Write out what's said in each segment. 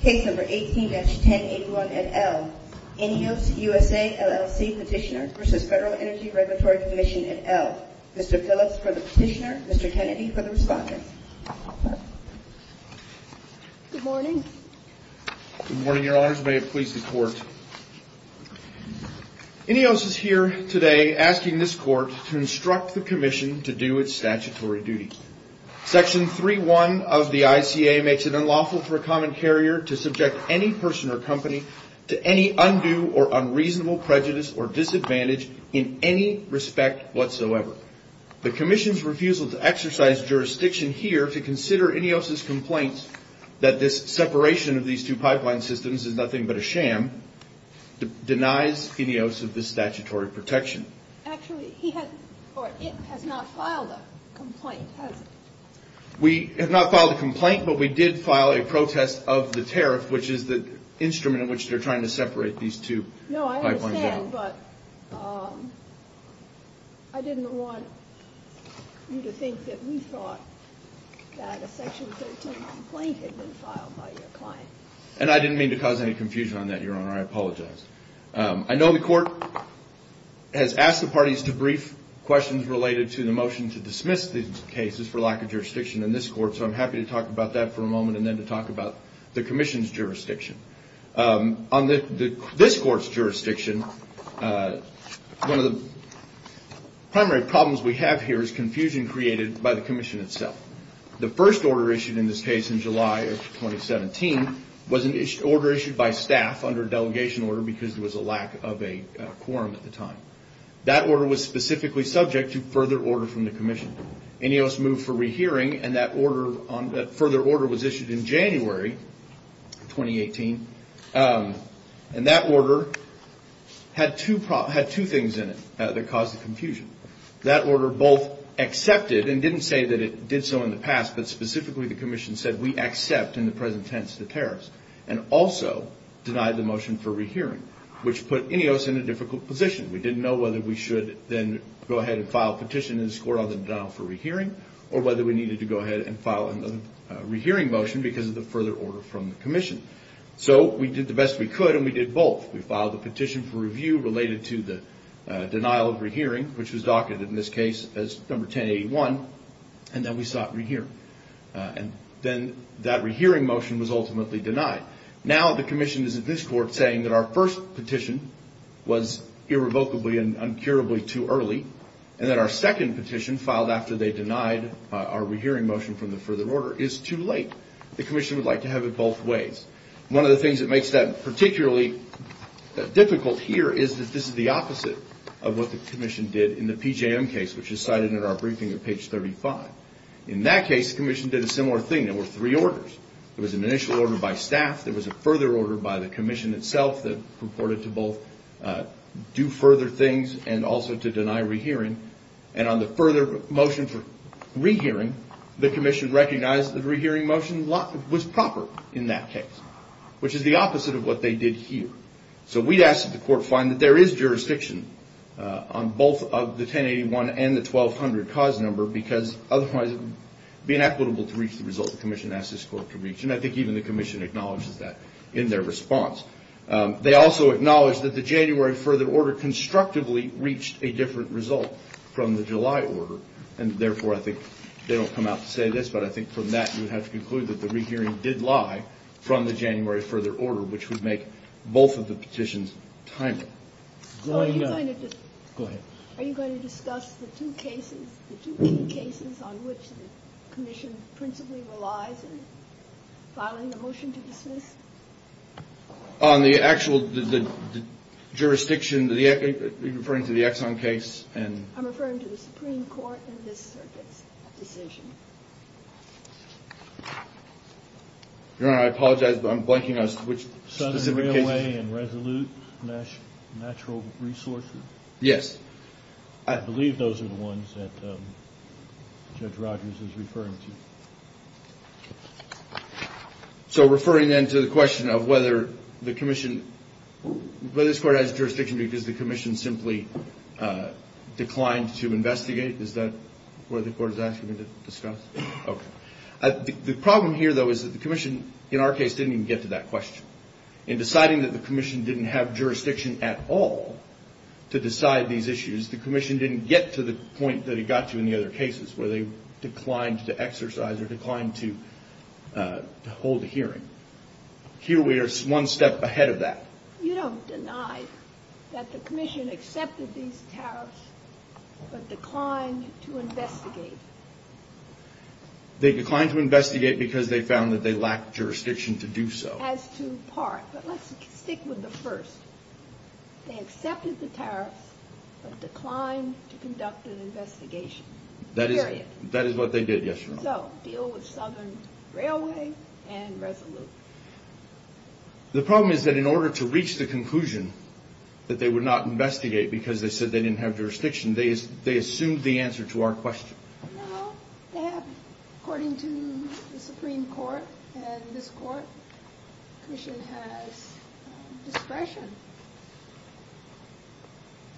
Case number 18-1081 et al. INEOS USA LLC Petitioner v. Federal Energy Regulatory Commission et al. Mr. Phillips for the petitioner, Mr. Kennedy for the respondent. Good morning. Good morning, your honors. May it please the court. INEOS is here today asking this court to instruct the commission to do its statutory duty. Section 3.1 of the ICA makes it unlawful for a common carrier to subject any person or company to any undue or unreasonable prejudice or disadvantage in any respect whatsoever. The commission's refusal to exercise jurisdiction here to consider INEOS' complaints that this separation of these two pipeline systems is nothing but a sham denies INEOS of this statutory protection. Actually, he has not filed a complaint, has he? We have not filed a complaint, but we did file a protest of the tariff, which is the instrument in which they're trying to separate these two pipelines. No, I understand, but I didn't want you to think that we thought that a section 13 complaint had been filed by your client. And I didn't mean to cause any confusion on that, your honor. I apologize. I know the court has asked the parties to brief questions related to the motion to dismiss these cases for lack of jurisdiction in this court, so I'm happy to talk about that for a moment and then to talk about the commission's jurisdiction. On this court's jurisdiction, one of the primary problems we have here is confusion created by the commission itself. The first order issued in this case in July of 2017 was an order issued by staff under a delegation order because there was a lack of a quorum at the time. That order was specifically subject to further order from the commission. INEOS moved for rehearing, and that further order was issued in January 2018. And that order had two things in it that caused the confusion. That order both accepted, and didn't say that it did so in the past, but specifically the commission said we accept in the present tense the tariffs, and also denied the motion for rehearing, which put INEOS in a difficult position. We didn't know whether we should then go ahead and file a petition in this court on the denial for rehearing or whether we needed to go ahead and file a rehearing motion because of the further order from the commission. So we did the best we could, and we did both. We filed a petition for review related to the denial of rehearing, which was docketed in this case as number 1081, and then we sought rehearing. And then that rehearing motion was ultimately denied. Now the commission is in this court saying that our first petition was irrevocably and uncurably too early, and that our second petition filed after they denied our rehearing motion from the further order is too late. The commission would like to have it both ways. One of the things that makes that particularly difficult here is that this is the opposite of what the commission did in the PJM case, which is cited in our briefing at page 35. In that case, the commission did a similar thing. There were three orders. There was an initial order by staff. There was a further order by the commission itself that purported to both do further things and also to deny rehearing, and on the further motion for rehearing, the commission recognized that the rehearing motion was proper in that case, which is the opposite of what they did here. So we'd ask that the court find that there is jurisdiction on both of the 1081 and the 1200 cause number, because otherwise it would be inequitable to reach the result the commission asked this court to reach, and I think even the commission acknowledges that in their response. They also acknowledge that the January further order constructively reached a different result from the July order, and therefore I think they don't come out to say this, but I think from that you would have to conclude that the rehearing did lie from the January further order, which would make both of the petitions timely. Go ahead. Are you going to discuss the two cases, the two key cases on which the commission principally relies in filing a motion to dismiss? On the actual jurisdiction, referring to the Exxon case. I'm referring to the Supreme Court. Your Honor, I apologize, but I'm blanking on specific cases. Southern Railway and Resolute Natural Resources? Yes. I believe those are the ones that Judge Rogers is referring to. So referring then to the question of whether the commission, whether this court has jurisdiction because the commission simply declined to investigate, is that what the court is asking me to discuss? Okay. The problem here, though, is that the commission in our case didn't even get to that question. In deciding that the commission didn't have jurisdiction at all to decide these issues, the commission didn't get to the point that it got to in the other cases where they declined to exercise or declined to hold a hearing. Here we are one step ahead of that. You don't deny that the commission accepted these tariffs but declined to investigate. They declined to investigate because they found that they lacked jurisdiction to do so. As to part. But let's stick with the first. They accepted the tariffs but declined to conduct an investigation. Period. That is what they did, yes, Your Honor. So deal with Southern Railway and Resolute. The problem is that in order to reach the conclusion that they would not investigate because they said they didn't have jurisdiction, they assumed the answer to our question. No, they haven't. According to the Supreme Court and this court, the commission has discretion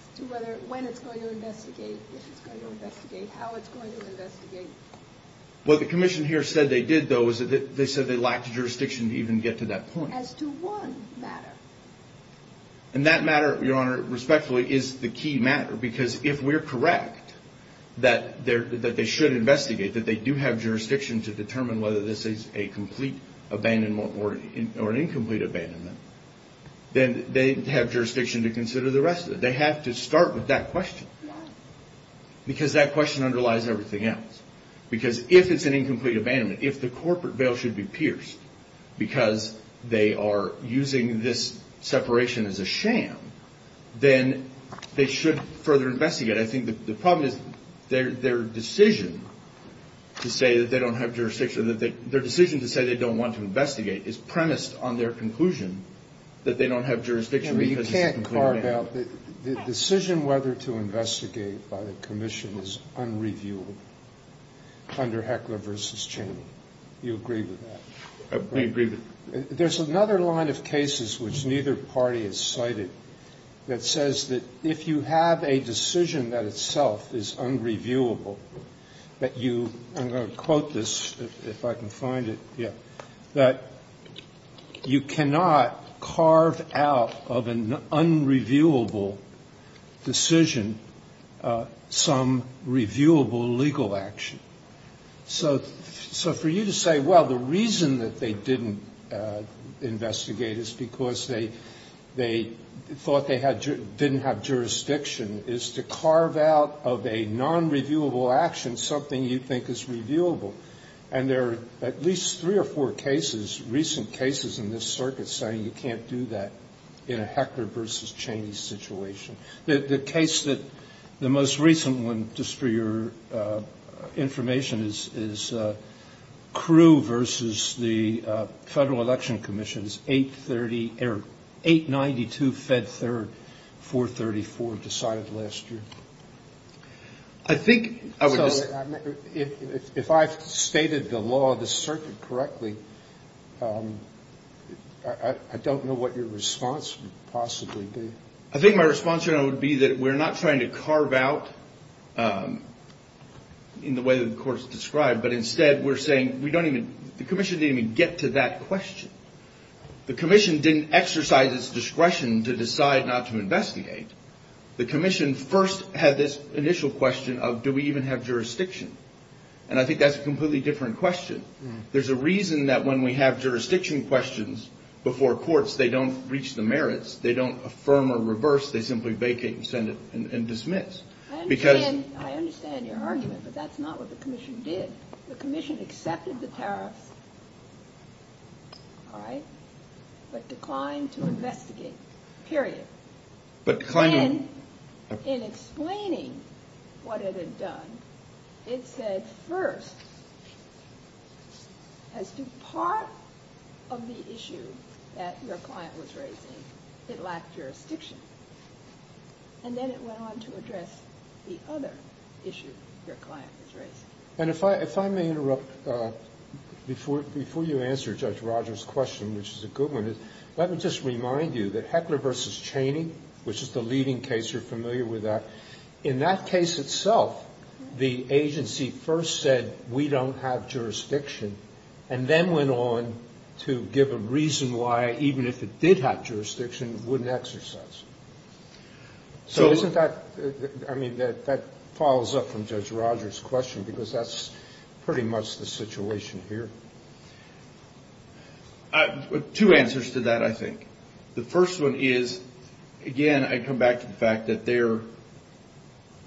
as to when it's going to investigate, if it's going to investigate, how it's going to investigate. What the commission here said they did, though, was that they said they lacked jurisdiction to even get to that point. As to one matter. And that matter, Your Honor, respectfully, is the key matter. Because if we're correct that they should investigate, that they do have jurisdiction to determine whether this is a complete abandonment or an incomplete abandonment, then they have jurisdiction to consider the rest of it. They have to start with that question. Yes. Because that question underlies everything else. Because if it's an incomplete abandonment, if the corporate veil should be pierced because they are using this separation as a sham, then they should further investigate. I think the problem is their decision to say that they don't have jurisdiction or their decision to say they don't want to investigate is premised on their conclusion that they don't have jurisdiction because it's a conclusion. I'm sorry. The decision whether to investigate by the commission is unreviewable under Heckler v. Chaney. Do you agree with that? We agree with it. There's another line of cases which neither party has cited that says that if you have a decision that itself is unreviewable, that you, I'm going to quote this if I can find it. Yeah. That you cannot carve out of an unreviewable decision some reviewable legal action. So for you to say, well, the reason that they didn't investigate is because they thought they didn't have jurisdiction is to carve out of a nonreviewable action something you think is reviewable. And there are at least three or four cases, recent cases in this circuit saying you can't do that in a Heckler v. Chaney situation. The case that the most recent one, just for your information, is Crewe v. the Federal Election Commission's 892 Fed 3rd, 434, decided last year. So if I've stated the law of the circuit correctly, I don't know what your response would possibly be. I think my response would be that we're not trying to carve out in the way that the Court has described, but instead we're saying we don't even, the Commission didn't even get to that question. The Commission didn't exercise its discretion to decide not to investigate. The Commission first had this initial question of do we even have jurisdiction? And I think that's a completely different question. There's a reason that when we have jurisdiction questions before courts, they don't reach the merits. They don't affirm or reverse. They simply vacate and send it and dismiss. Because ‑‑ I understand your argument, but that's not what the Commission did. The Commission accepted the tariffs, all right, but declined to investigate. Period. In explaining what it had done, it said first, as to part of the issue that your client was raising, it lacked jurisdiction. And then it went on to address the other issue your client was raising. And if I may interrupt before you answer Judge Rogers' question, which is a good point, I want to remind you that Heckler v. Cheney, which is the leading case, you're familiar with that, in that case itself, the agency first said we don't have jurisdiction, and then went on to give a reason why, even if it did have jurisdiction, it wouldn't exercise it. So isn't that, I mean, that follows up from Judge Rogers' question, because that's pretty much the situation here. Two answers to that, I think. The first one is, again, I come back to the fact that their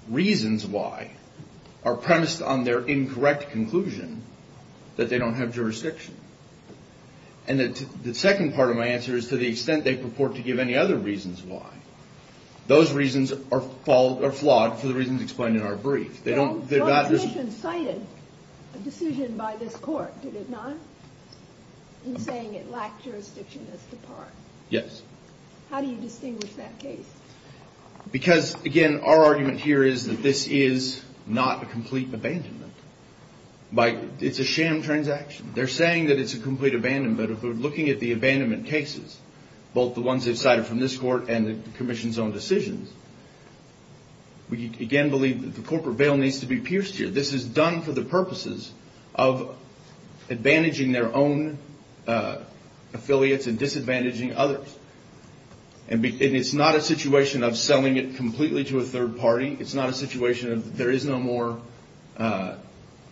reasons why are premised on their incorrect conclusion that they don't have jurisdiction. And the second part of my answer is to the extent they purport to give any other reasons why, those reasons are flawed for the reasons explained in our brief. Well, the Commission cited a decision by this Court, did it not, in saying it lacked jurisdiction as to part? Yes. How do you distinguish that case? Because, again, our argument here is that this is not a complete abandonment. It's a sham transaction. They're saying that it's a complete abandonment, but if we're looking at the abandonment cases, both the ones they've cited from this Court and the Commission's own decisions, we, again, believe that the corporate bail needs to be pierced here. This is done for the purposes of advantaging their own affiliates and disadvantaging others. And it's not a situation of selling it completely to a third party. It's not a situation of there is no more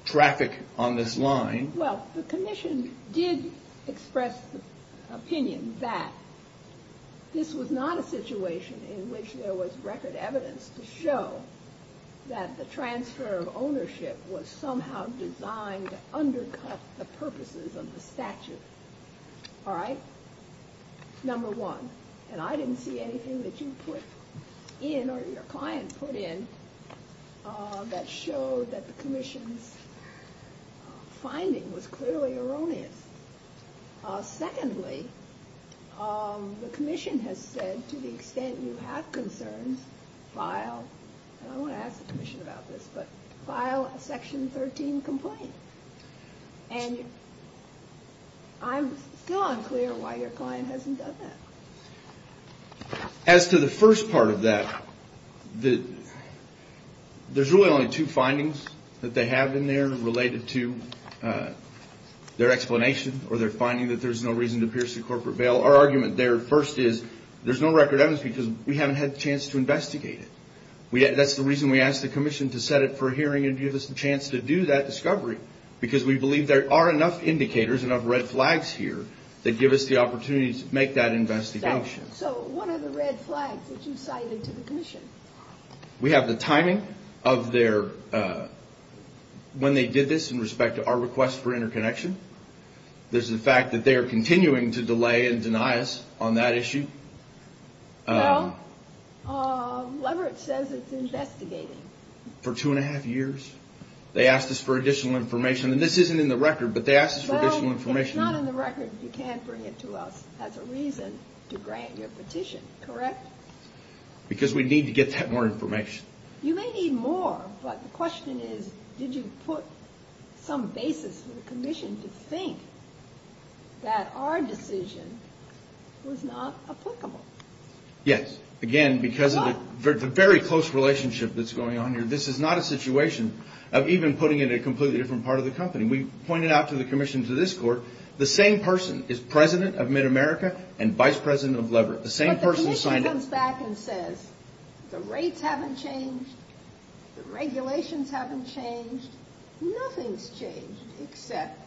traffic on this line. Well, the Commission did express the opinion that this was not a situation in which there was record evidence to show that the transfer of ownership was somehow designed to undercut the purposes of the statute. All right? Number one. And I didn't see anything that you put in or your client put in that showed that the Commission's finding was clearly erroneous. Secondly, the Commission has said, to the extent you have concerns, file, and I don't want to ask the Commission about this, but file a Section 13 complaint. And I'm still unclear why your client hasn't done that. As to the first part of that, there's really only two findings that they have in there related to their explanation or their finding that there's no reason to pierce the corporate bail. Our argument there, first, is there's no record evidence because we haven't had the chance to investigate it. That's the reason we asked the Commission to set it for a hearing and give us the chance to do that discovery, because we believe there are enough indicators, enough So, what are the red flags that you cited to the Commission? We have the timing of their, when they did this in respect to our request for interconnection. There's the fact that they are continuing to delay and deny us on that issue. Well, Leverett says it's investigating. For two and a half years. They asked us for additional information, and this isn't in the record, but they asked us for additional information. It's not in the record. You can't bring it to us as a reason to grant your petition, correct? Because we need to get that more information. You may need more, but the question is, did you put some basis for the Commission to think that our decision was not applicable? Yes. Again, because of the very close relationship that's going on here, this is not a situation of even putting it in a completely different part of the company. And we pointed out to the Commission, to this Court, the same person is President of MidAmerica and Vice President of Leverett. The same person signed it. But the Commission comes back and says, the rates haven't changed, the regulations haven't changed, nothing's changed except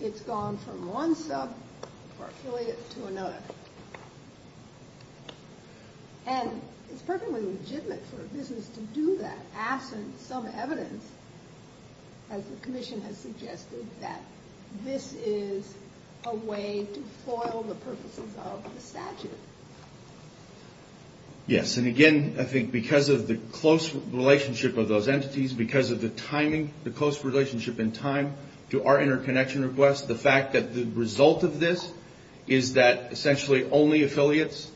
it's gone from one sub or affiliate to another. And it's perfectly legitimate for a business to do that absent some evidence as the Commission has suggested that this is a way to foil the purposes of the statute. Yes. And again, I think because of the close relationship of those entities, because of the timing, the close relationship in time to our interconnection request, the fact that the result of this is that essentially only affiliates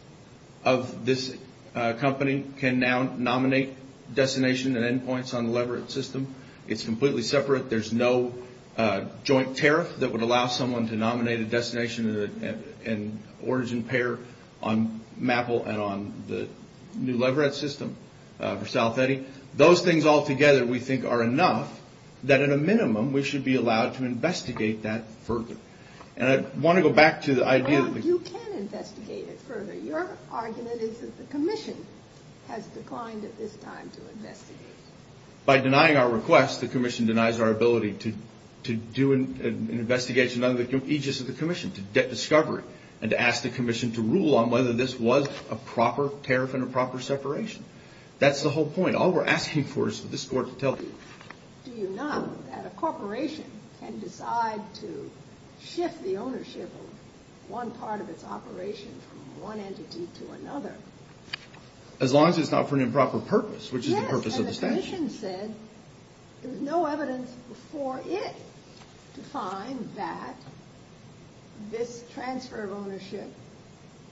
of this company can now nominate destination and endpoints on the Leverett system. It's completely separate. There's no joint tariff that would allow someone to nominate a destination and origin pair on MAPL and on the new Leverett system for South Eddy. Those things all together we think are enough that at a minimum we should be allowed to investigate that further. And I want to go back to the idea of the... has declined at this time to investigate. By denying our request, the Commission denies our ability to do an investigation under the aegis of the Commission, to discover it, and to ask the Commission to rule on whether this was a proper tariff and a proper separation. That's the whole point. All we're asking for is for this Court to tell you. Do you know that a corporation can decide to shift the ownership of one part of its operation from one entity to another? As long as it's not for an improper purpose, which is the purpose of the statute. Yes, and the Commission said there was no evidence before it to find that this transfer of ownership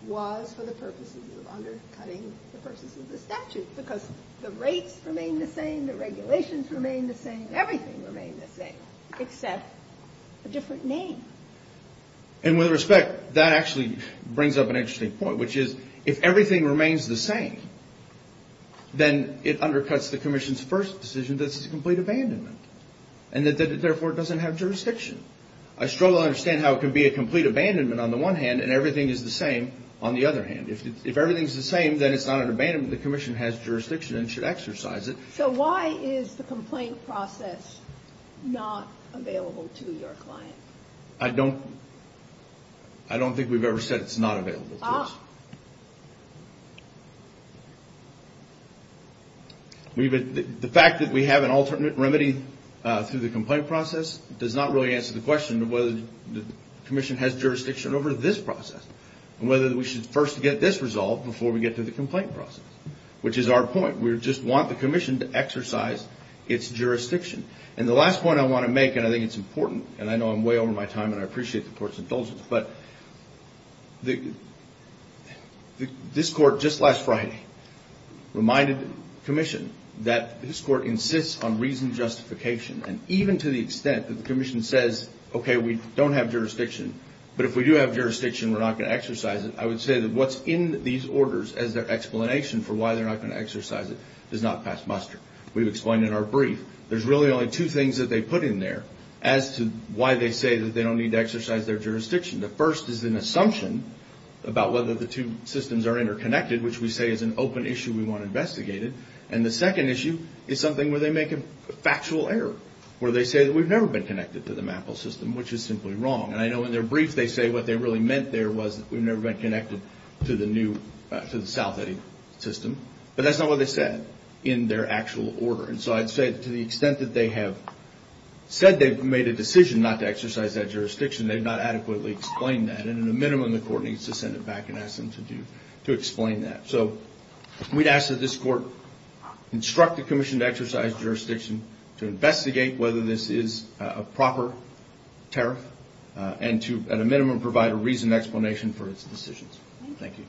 was for the purposes of undercutting the purposes of the statute, because the rates remain the same, the regulations remain the same, everything remains the same, except a different name. And with respect, that actually brings up an interesting point, which is if everything remains the same, then it undercuts the Commission's first decision that it's a complete abandonment, and that it therefore doesn't have jurisdiction. I strongly understand how it can be a complete abandonment on the one hand, and everything is the same on the other hand. If everything's the same, then it's not an abandonment. The Commission has jurisdiction and should exercise it. So why is the complaint process not available to your client? I don't think we've ever said it's not available to us. The fact that we have an alternate remedy through the complaint process does not really answer the question of whether the Commission has jurisdiction over this process, and whether we should first get this resolved before we get to the complaint process, which is our point. We just want the Commission to exercise its jurisdiction. And the last point I want to make, and I think it's important, and I know I'm way over my time and I appreciate the Court's indulgence, but the fact that this Court just last Friday reminded the Commission that this Court insists on reasoned justification. And even to the extent that the Commission says, okay, we don't have jurisdiction, but if we do have jurisdiction, we're not going to exercise it, I would say that what's in these orders as their explanation for why they're not going to exercise it does not pass muster. We've explained in our brief, there's really only two things that they put in there as to why they say that they don't need to exercise their jurisdiction. The first is an assumption about whether the two systems are interconnected, which we say is an open issue we want investigated. And the second issue is something where they make a factual error, where they say that we've never been connected to the MAPL system, which is simply wrong. And I know in their brief they say what they really meant there was that we've never been connected to the new, to the SouthAid system, but that's not what they said in their actual order. And so I'd say to the extent that they have said they've made a decision not to explain that, and in a minimum the court needs to send it back and ask them to explain that. So we'd ask that this court instruct the commission to exercise jurisdiction, to investigate whether this is a proper tariff, and to at a minimum provide a reasoned explanation for its decisions. Thank you.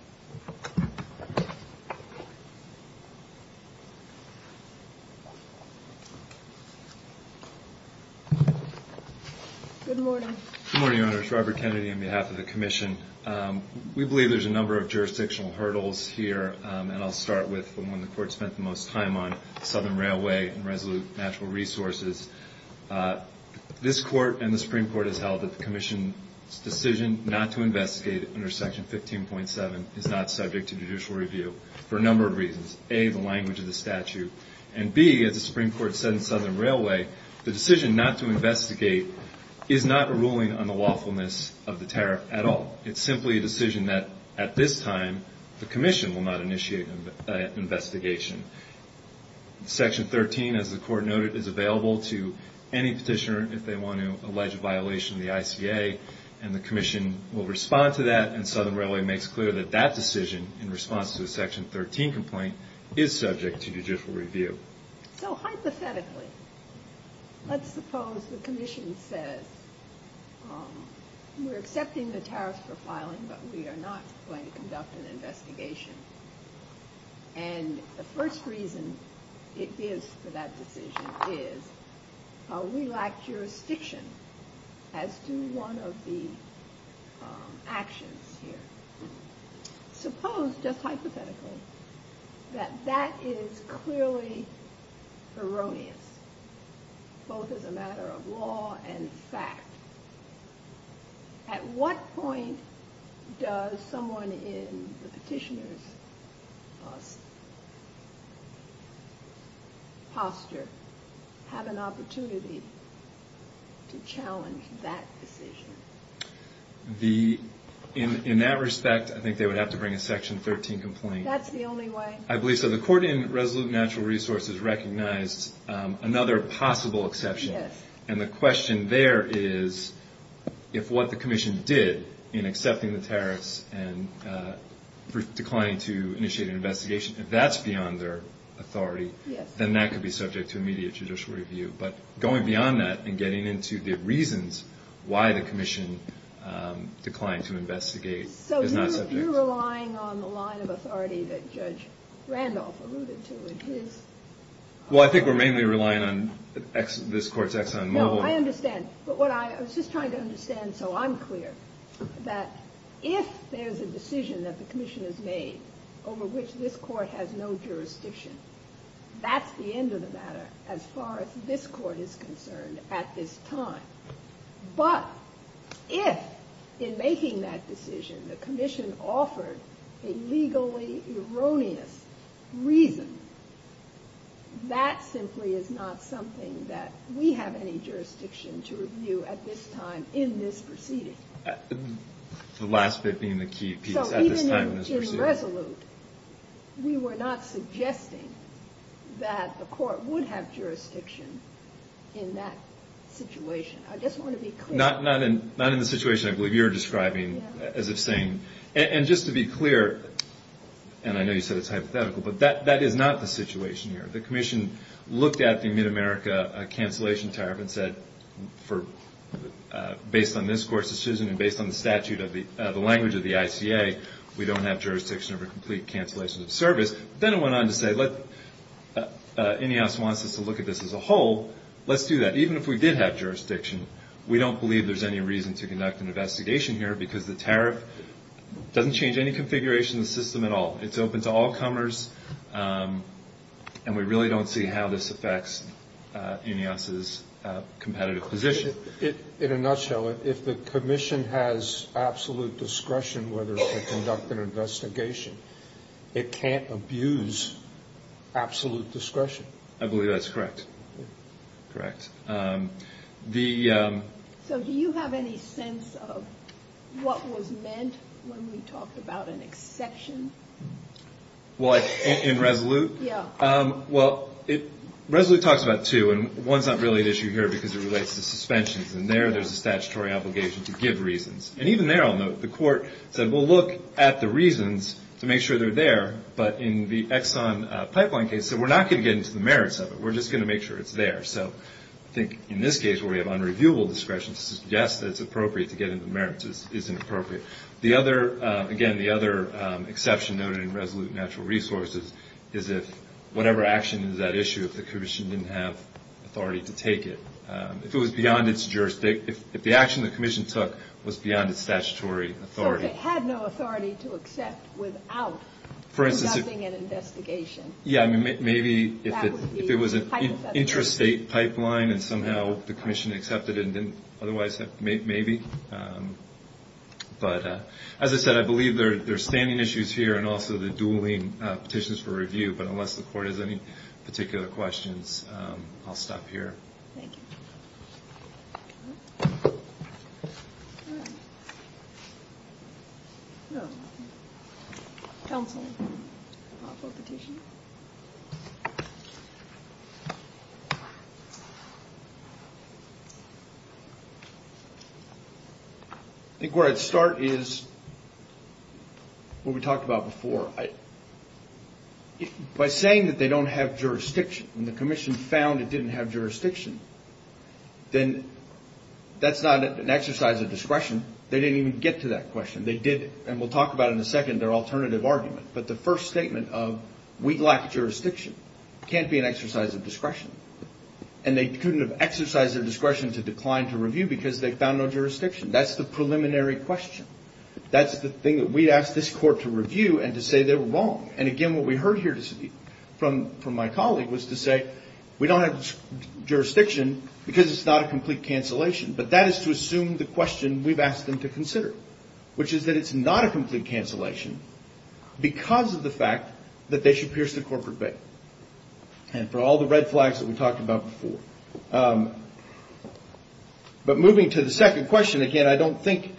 Good morning. Good morning, Your Honors. Robert Kennedy on behalf of the commission. We believe there's a number of jurisdictional hurdles here, and I'll start with the one the court spent the most time on, Southern Railway and Resolute Natural Resources. This court and the Supreme Court has held that the commission's decision not to investigate under Section 15.7 is not subject to judicial review for a number of reasons. A, the language of the statute, and B, as the Supreme Court said in Southern is not a ruling on the lawfulness of the tariff at all. It's simply a decision that at this time the commission will not initiate an investigation. Section 13, as the court noted, is available to any petitioner if they want to allege a violation of the ICA, and the commission will respond to that, and Southern Railway makes clear that that decision in response to the Section 13 complaint is subject to judicial review. So hypothetically, let's suppose the commission says we're accepting the tariff for filing, but we are not going to conduct an investigation, and the first reason it is for that decision is we lack jurisdiction as to one of the actions here. Suppose, just hypothetically, that that is clearly erroneous, both as a matter of law and fact. At what point does someone in the petitioner's posture have an opportunity to challenge that decision? In that respect, I think they would have to bring a Section 13 complaint. That's the only way. I believe so. The Court in Resolute Natural Resources recognized another possible exception, and the question there is if what the commission did in accepting the tariffs and declining to initiate an investigation, if that's beyond their authority, then that could be subject to immediate judicial review. But going beyond that and getting into the reasons why the commission declined to investigate is not subject. So you're relying on the line of authority that Judge Randolph alluded to in his argument? Well, I think we're mainly relying on this Court's Exxon Mobil. No, I understand. But what I was just trying to understand, so I'm clear, that if there's a decision that the commission has made over which this Court has no jurisdiction, that's at the end of the matter as far as this Court is concerned at this time. But if, in making that decision, the commission offered a legally erroneous reason, that simply is not something that we have any jurisdiction to review at this time in this proceeding. The last bit being the key piece, at this time in this proceeding. If we were resolute, we were not suggesting that the Court would have jurisdiction in that situation. I just want to be clear. Not in the situation I believe you're describing, as if saying. And just to be clear, and I know you said it's hypothetical, but that is not the situation here. The commission looked at the Mid-America cancellation tariff and said, based on this Court's decision and based on the statute of the language of the ICA, we don't have jurisdiction over complete cancellations of service. Then it went on to say, INEOS wants us to look at this as a whole. Let's do that. Even if we did have jurisdiction, we don't believe there's any reason to conduct an investigation here, because the tariff doesn't change any configuration of the system at all. It's open to all comers, and we really don't see how this affects INEOS's competitive position. In a nutshell, if the commission has absolute discretion whether to conduct an investigation, it can't abuse absolute discretion. I believe that's correct. Correct. So do you have any sense of what was meant when we talked about an exception? In Resolute? Yeah. Well, Resolute talks about two, and one's not really an issue here because it relates to suspensions. And there, there's a statutory obligation to give reasons. And even there, I'll note, the court said, well, look at the reasons to make sure they're there. But in the Exxon pipeline case, they said, we're not going to get into the merits of it. We're just going to make sure it's there. So I think in this case, where we have unreviewable discretion, to suggest that it's appropriate to get into the merits isn't appropriate. The other, again, the other exception noted in Resolute Natural Resources is if whatever action is at issue, if the commission didn't have authority to take it. If it was beyond its jurisdiction, if the action the commission took was beyond its statutory authority. So if it had no authority to accept without conducting an investigation. Yeah. I mean, maybe if it was an interstate pipeline and somehow the commission accepted it and didn't otherwise, maybe. But as I said, I believe there are standing issues here and also the dueling petitions for review. But unless the court has any particular questions, I'll stop here. Thank you. I think where I'd start is what we talked about before. By saying that they don't have jurisdiction and the commission found it without jurisdiction, then that's not an exercise of discretion. They didn't even get to that question. They did. And we'll talk about it in a second, their alternative argument. But the first statement of we lack jurisdiction can't be an exercise of discretion. And they couldn't have exercised their discretion to decline to review because they found no jurisdiction. That's the preliminary question. That's the thing that we'd ask this court to review and to say they were wrong. And again, what we heard here from my colleague was to say we don't have jurisdiction because it's not a complete cancellation. But that is to assume the question we've asked them to consider, which is that it's not a complete cancellation because of the fact that they should pierce the corporate bail. And for all the red flags that we talked about before. But moving to the second question, again, I don't think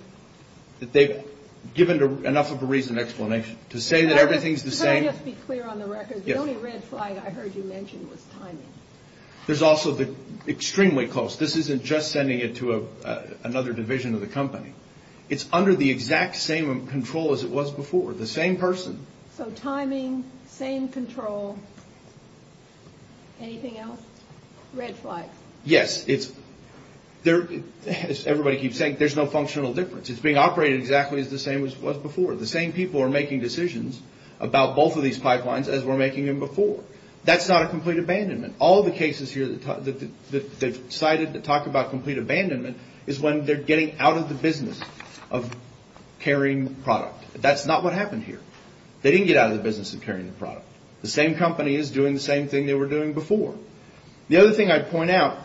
that they've given enough of a reason and explanation to say that everything's the same. Could I just be clear on the record? Yes. The only red flag I heard you mention was timing. There's also the extremely close. This isn't just sending it to another division of the company. It's under the exact same control as it was before. The same person. So timing, same control. Anything else? Red flags. Yes. It's there. As everybody keeps saying, there's no functional difference. It's being operated exactly as the same as it was before. The same people are making decisions about both of these pipelines as we're making them before. That's not a complete abandonment. All the cases here that they've cited that talk about complete abandonment is when they're getting out of the business of carrying product. That's not what happened here. They didn't get out of the business of carrying the product. The same company is doing the same thing they were doing before. The other thing I'd point out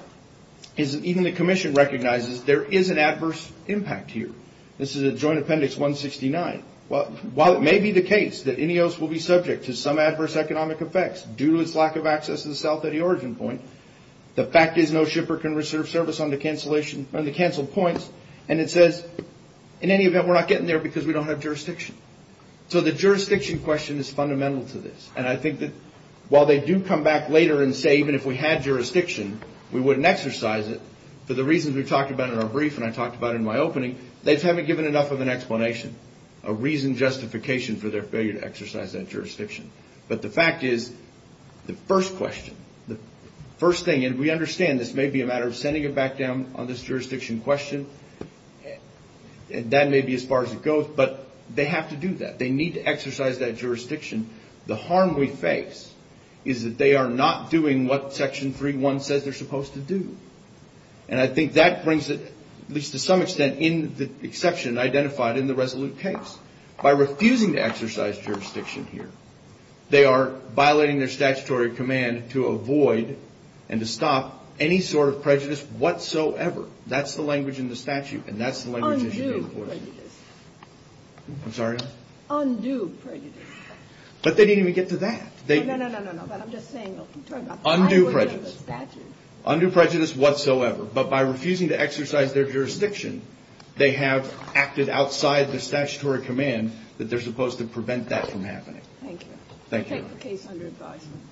is that even the commission recognizes there is an adverse impact here. This is at Joint Appendix 169. While it may be the case that INEOS will be subject to some adverse economic effects due to its lack of access to the south at the origin point, the fact is no shipper can reserve service on the canceled points. It says, in any event, we're not getting there because we don't have jurisdiction. The jurisdiction question is fundamental to this. I think that while they do come back later and say, even if we had jurisdiction, we wouldn't exercise it, for the reasons we talked about in our brief and I talked about in my opening, they just haven't given enough of an explanation, a reasoned justification for their failure to exercise that jurisdiction. But the fact is, the first question, the first thing, and we understand this may be a matter of sending it back down on this jurisdiction question, and that may be as far as it goes, but they have to do that. They need to exercise that jurisdiction. The harm we face is that they are not doing what Section 3.1 says they're supposed to do. And I think that brings it, at least to some extent, in the exception identified in the resolute case. By refusing to exercise jurisdiction here, they are violating their statutory command to avoid and to stop any sort of prejudice whatsoever. That's the language in the statute and that's the language they should be enforcing. Undue prejudice. I'm sorry? Undue prejudice. But they didn't even get to that. No, no, no, no, no, no, but I'm just saying, I'm talking about the language in the statute. Undue prejudice. Undue prejudice whatsoever. But by refusing to exercise their jurisdiction, they have acted outside the statutory command that they're supposed to prevent that from happening. Thank you. Thank you. Case under advisement.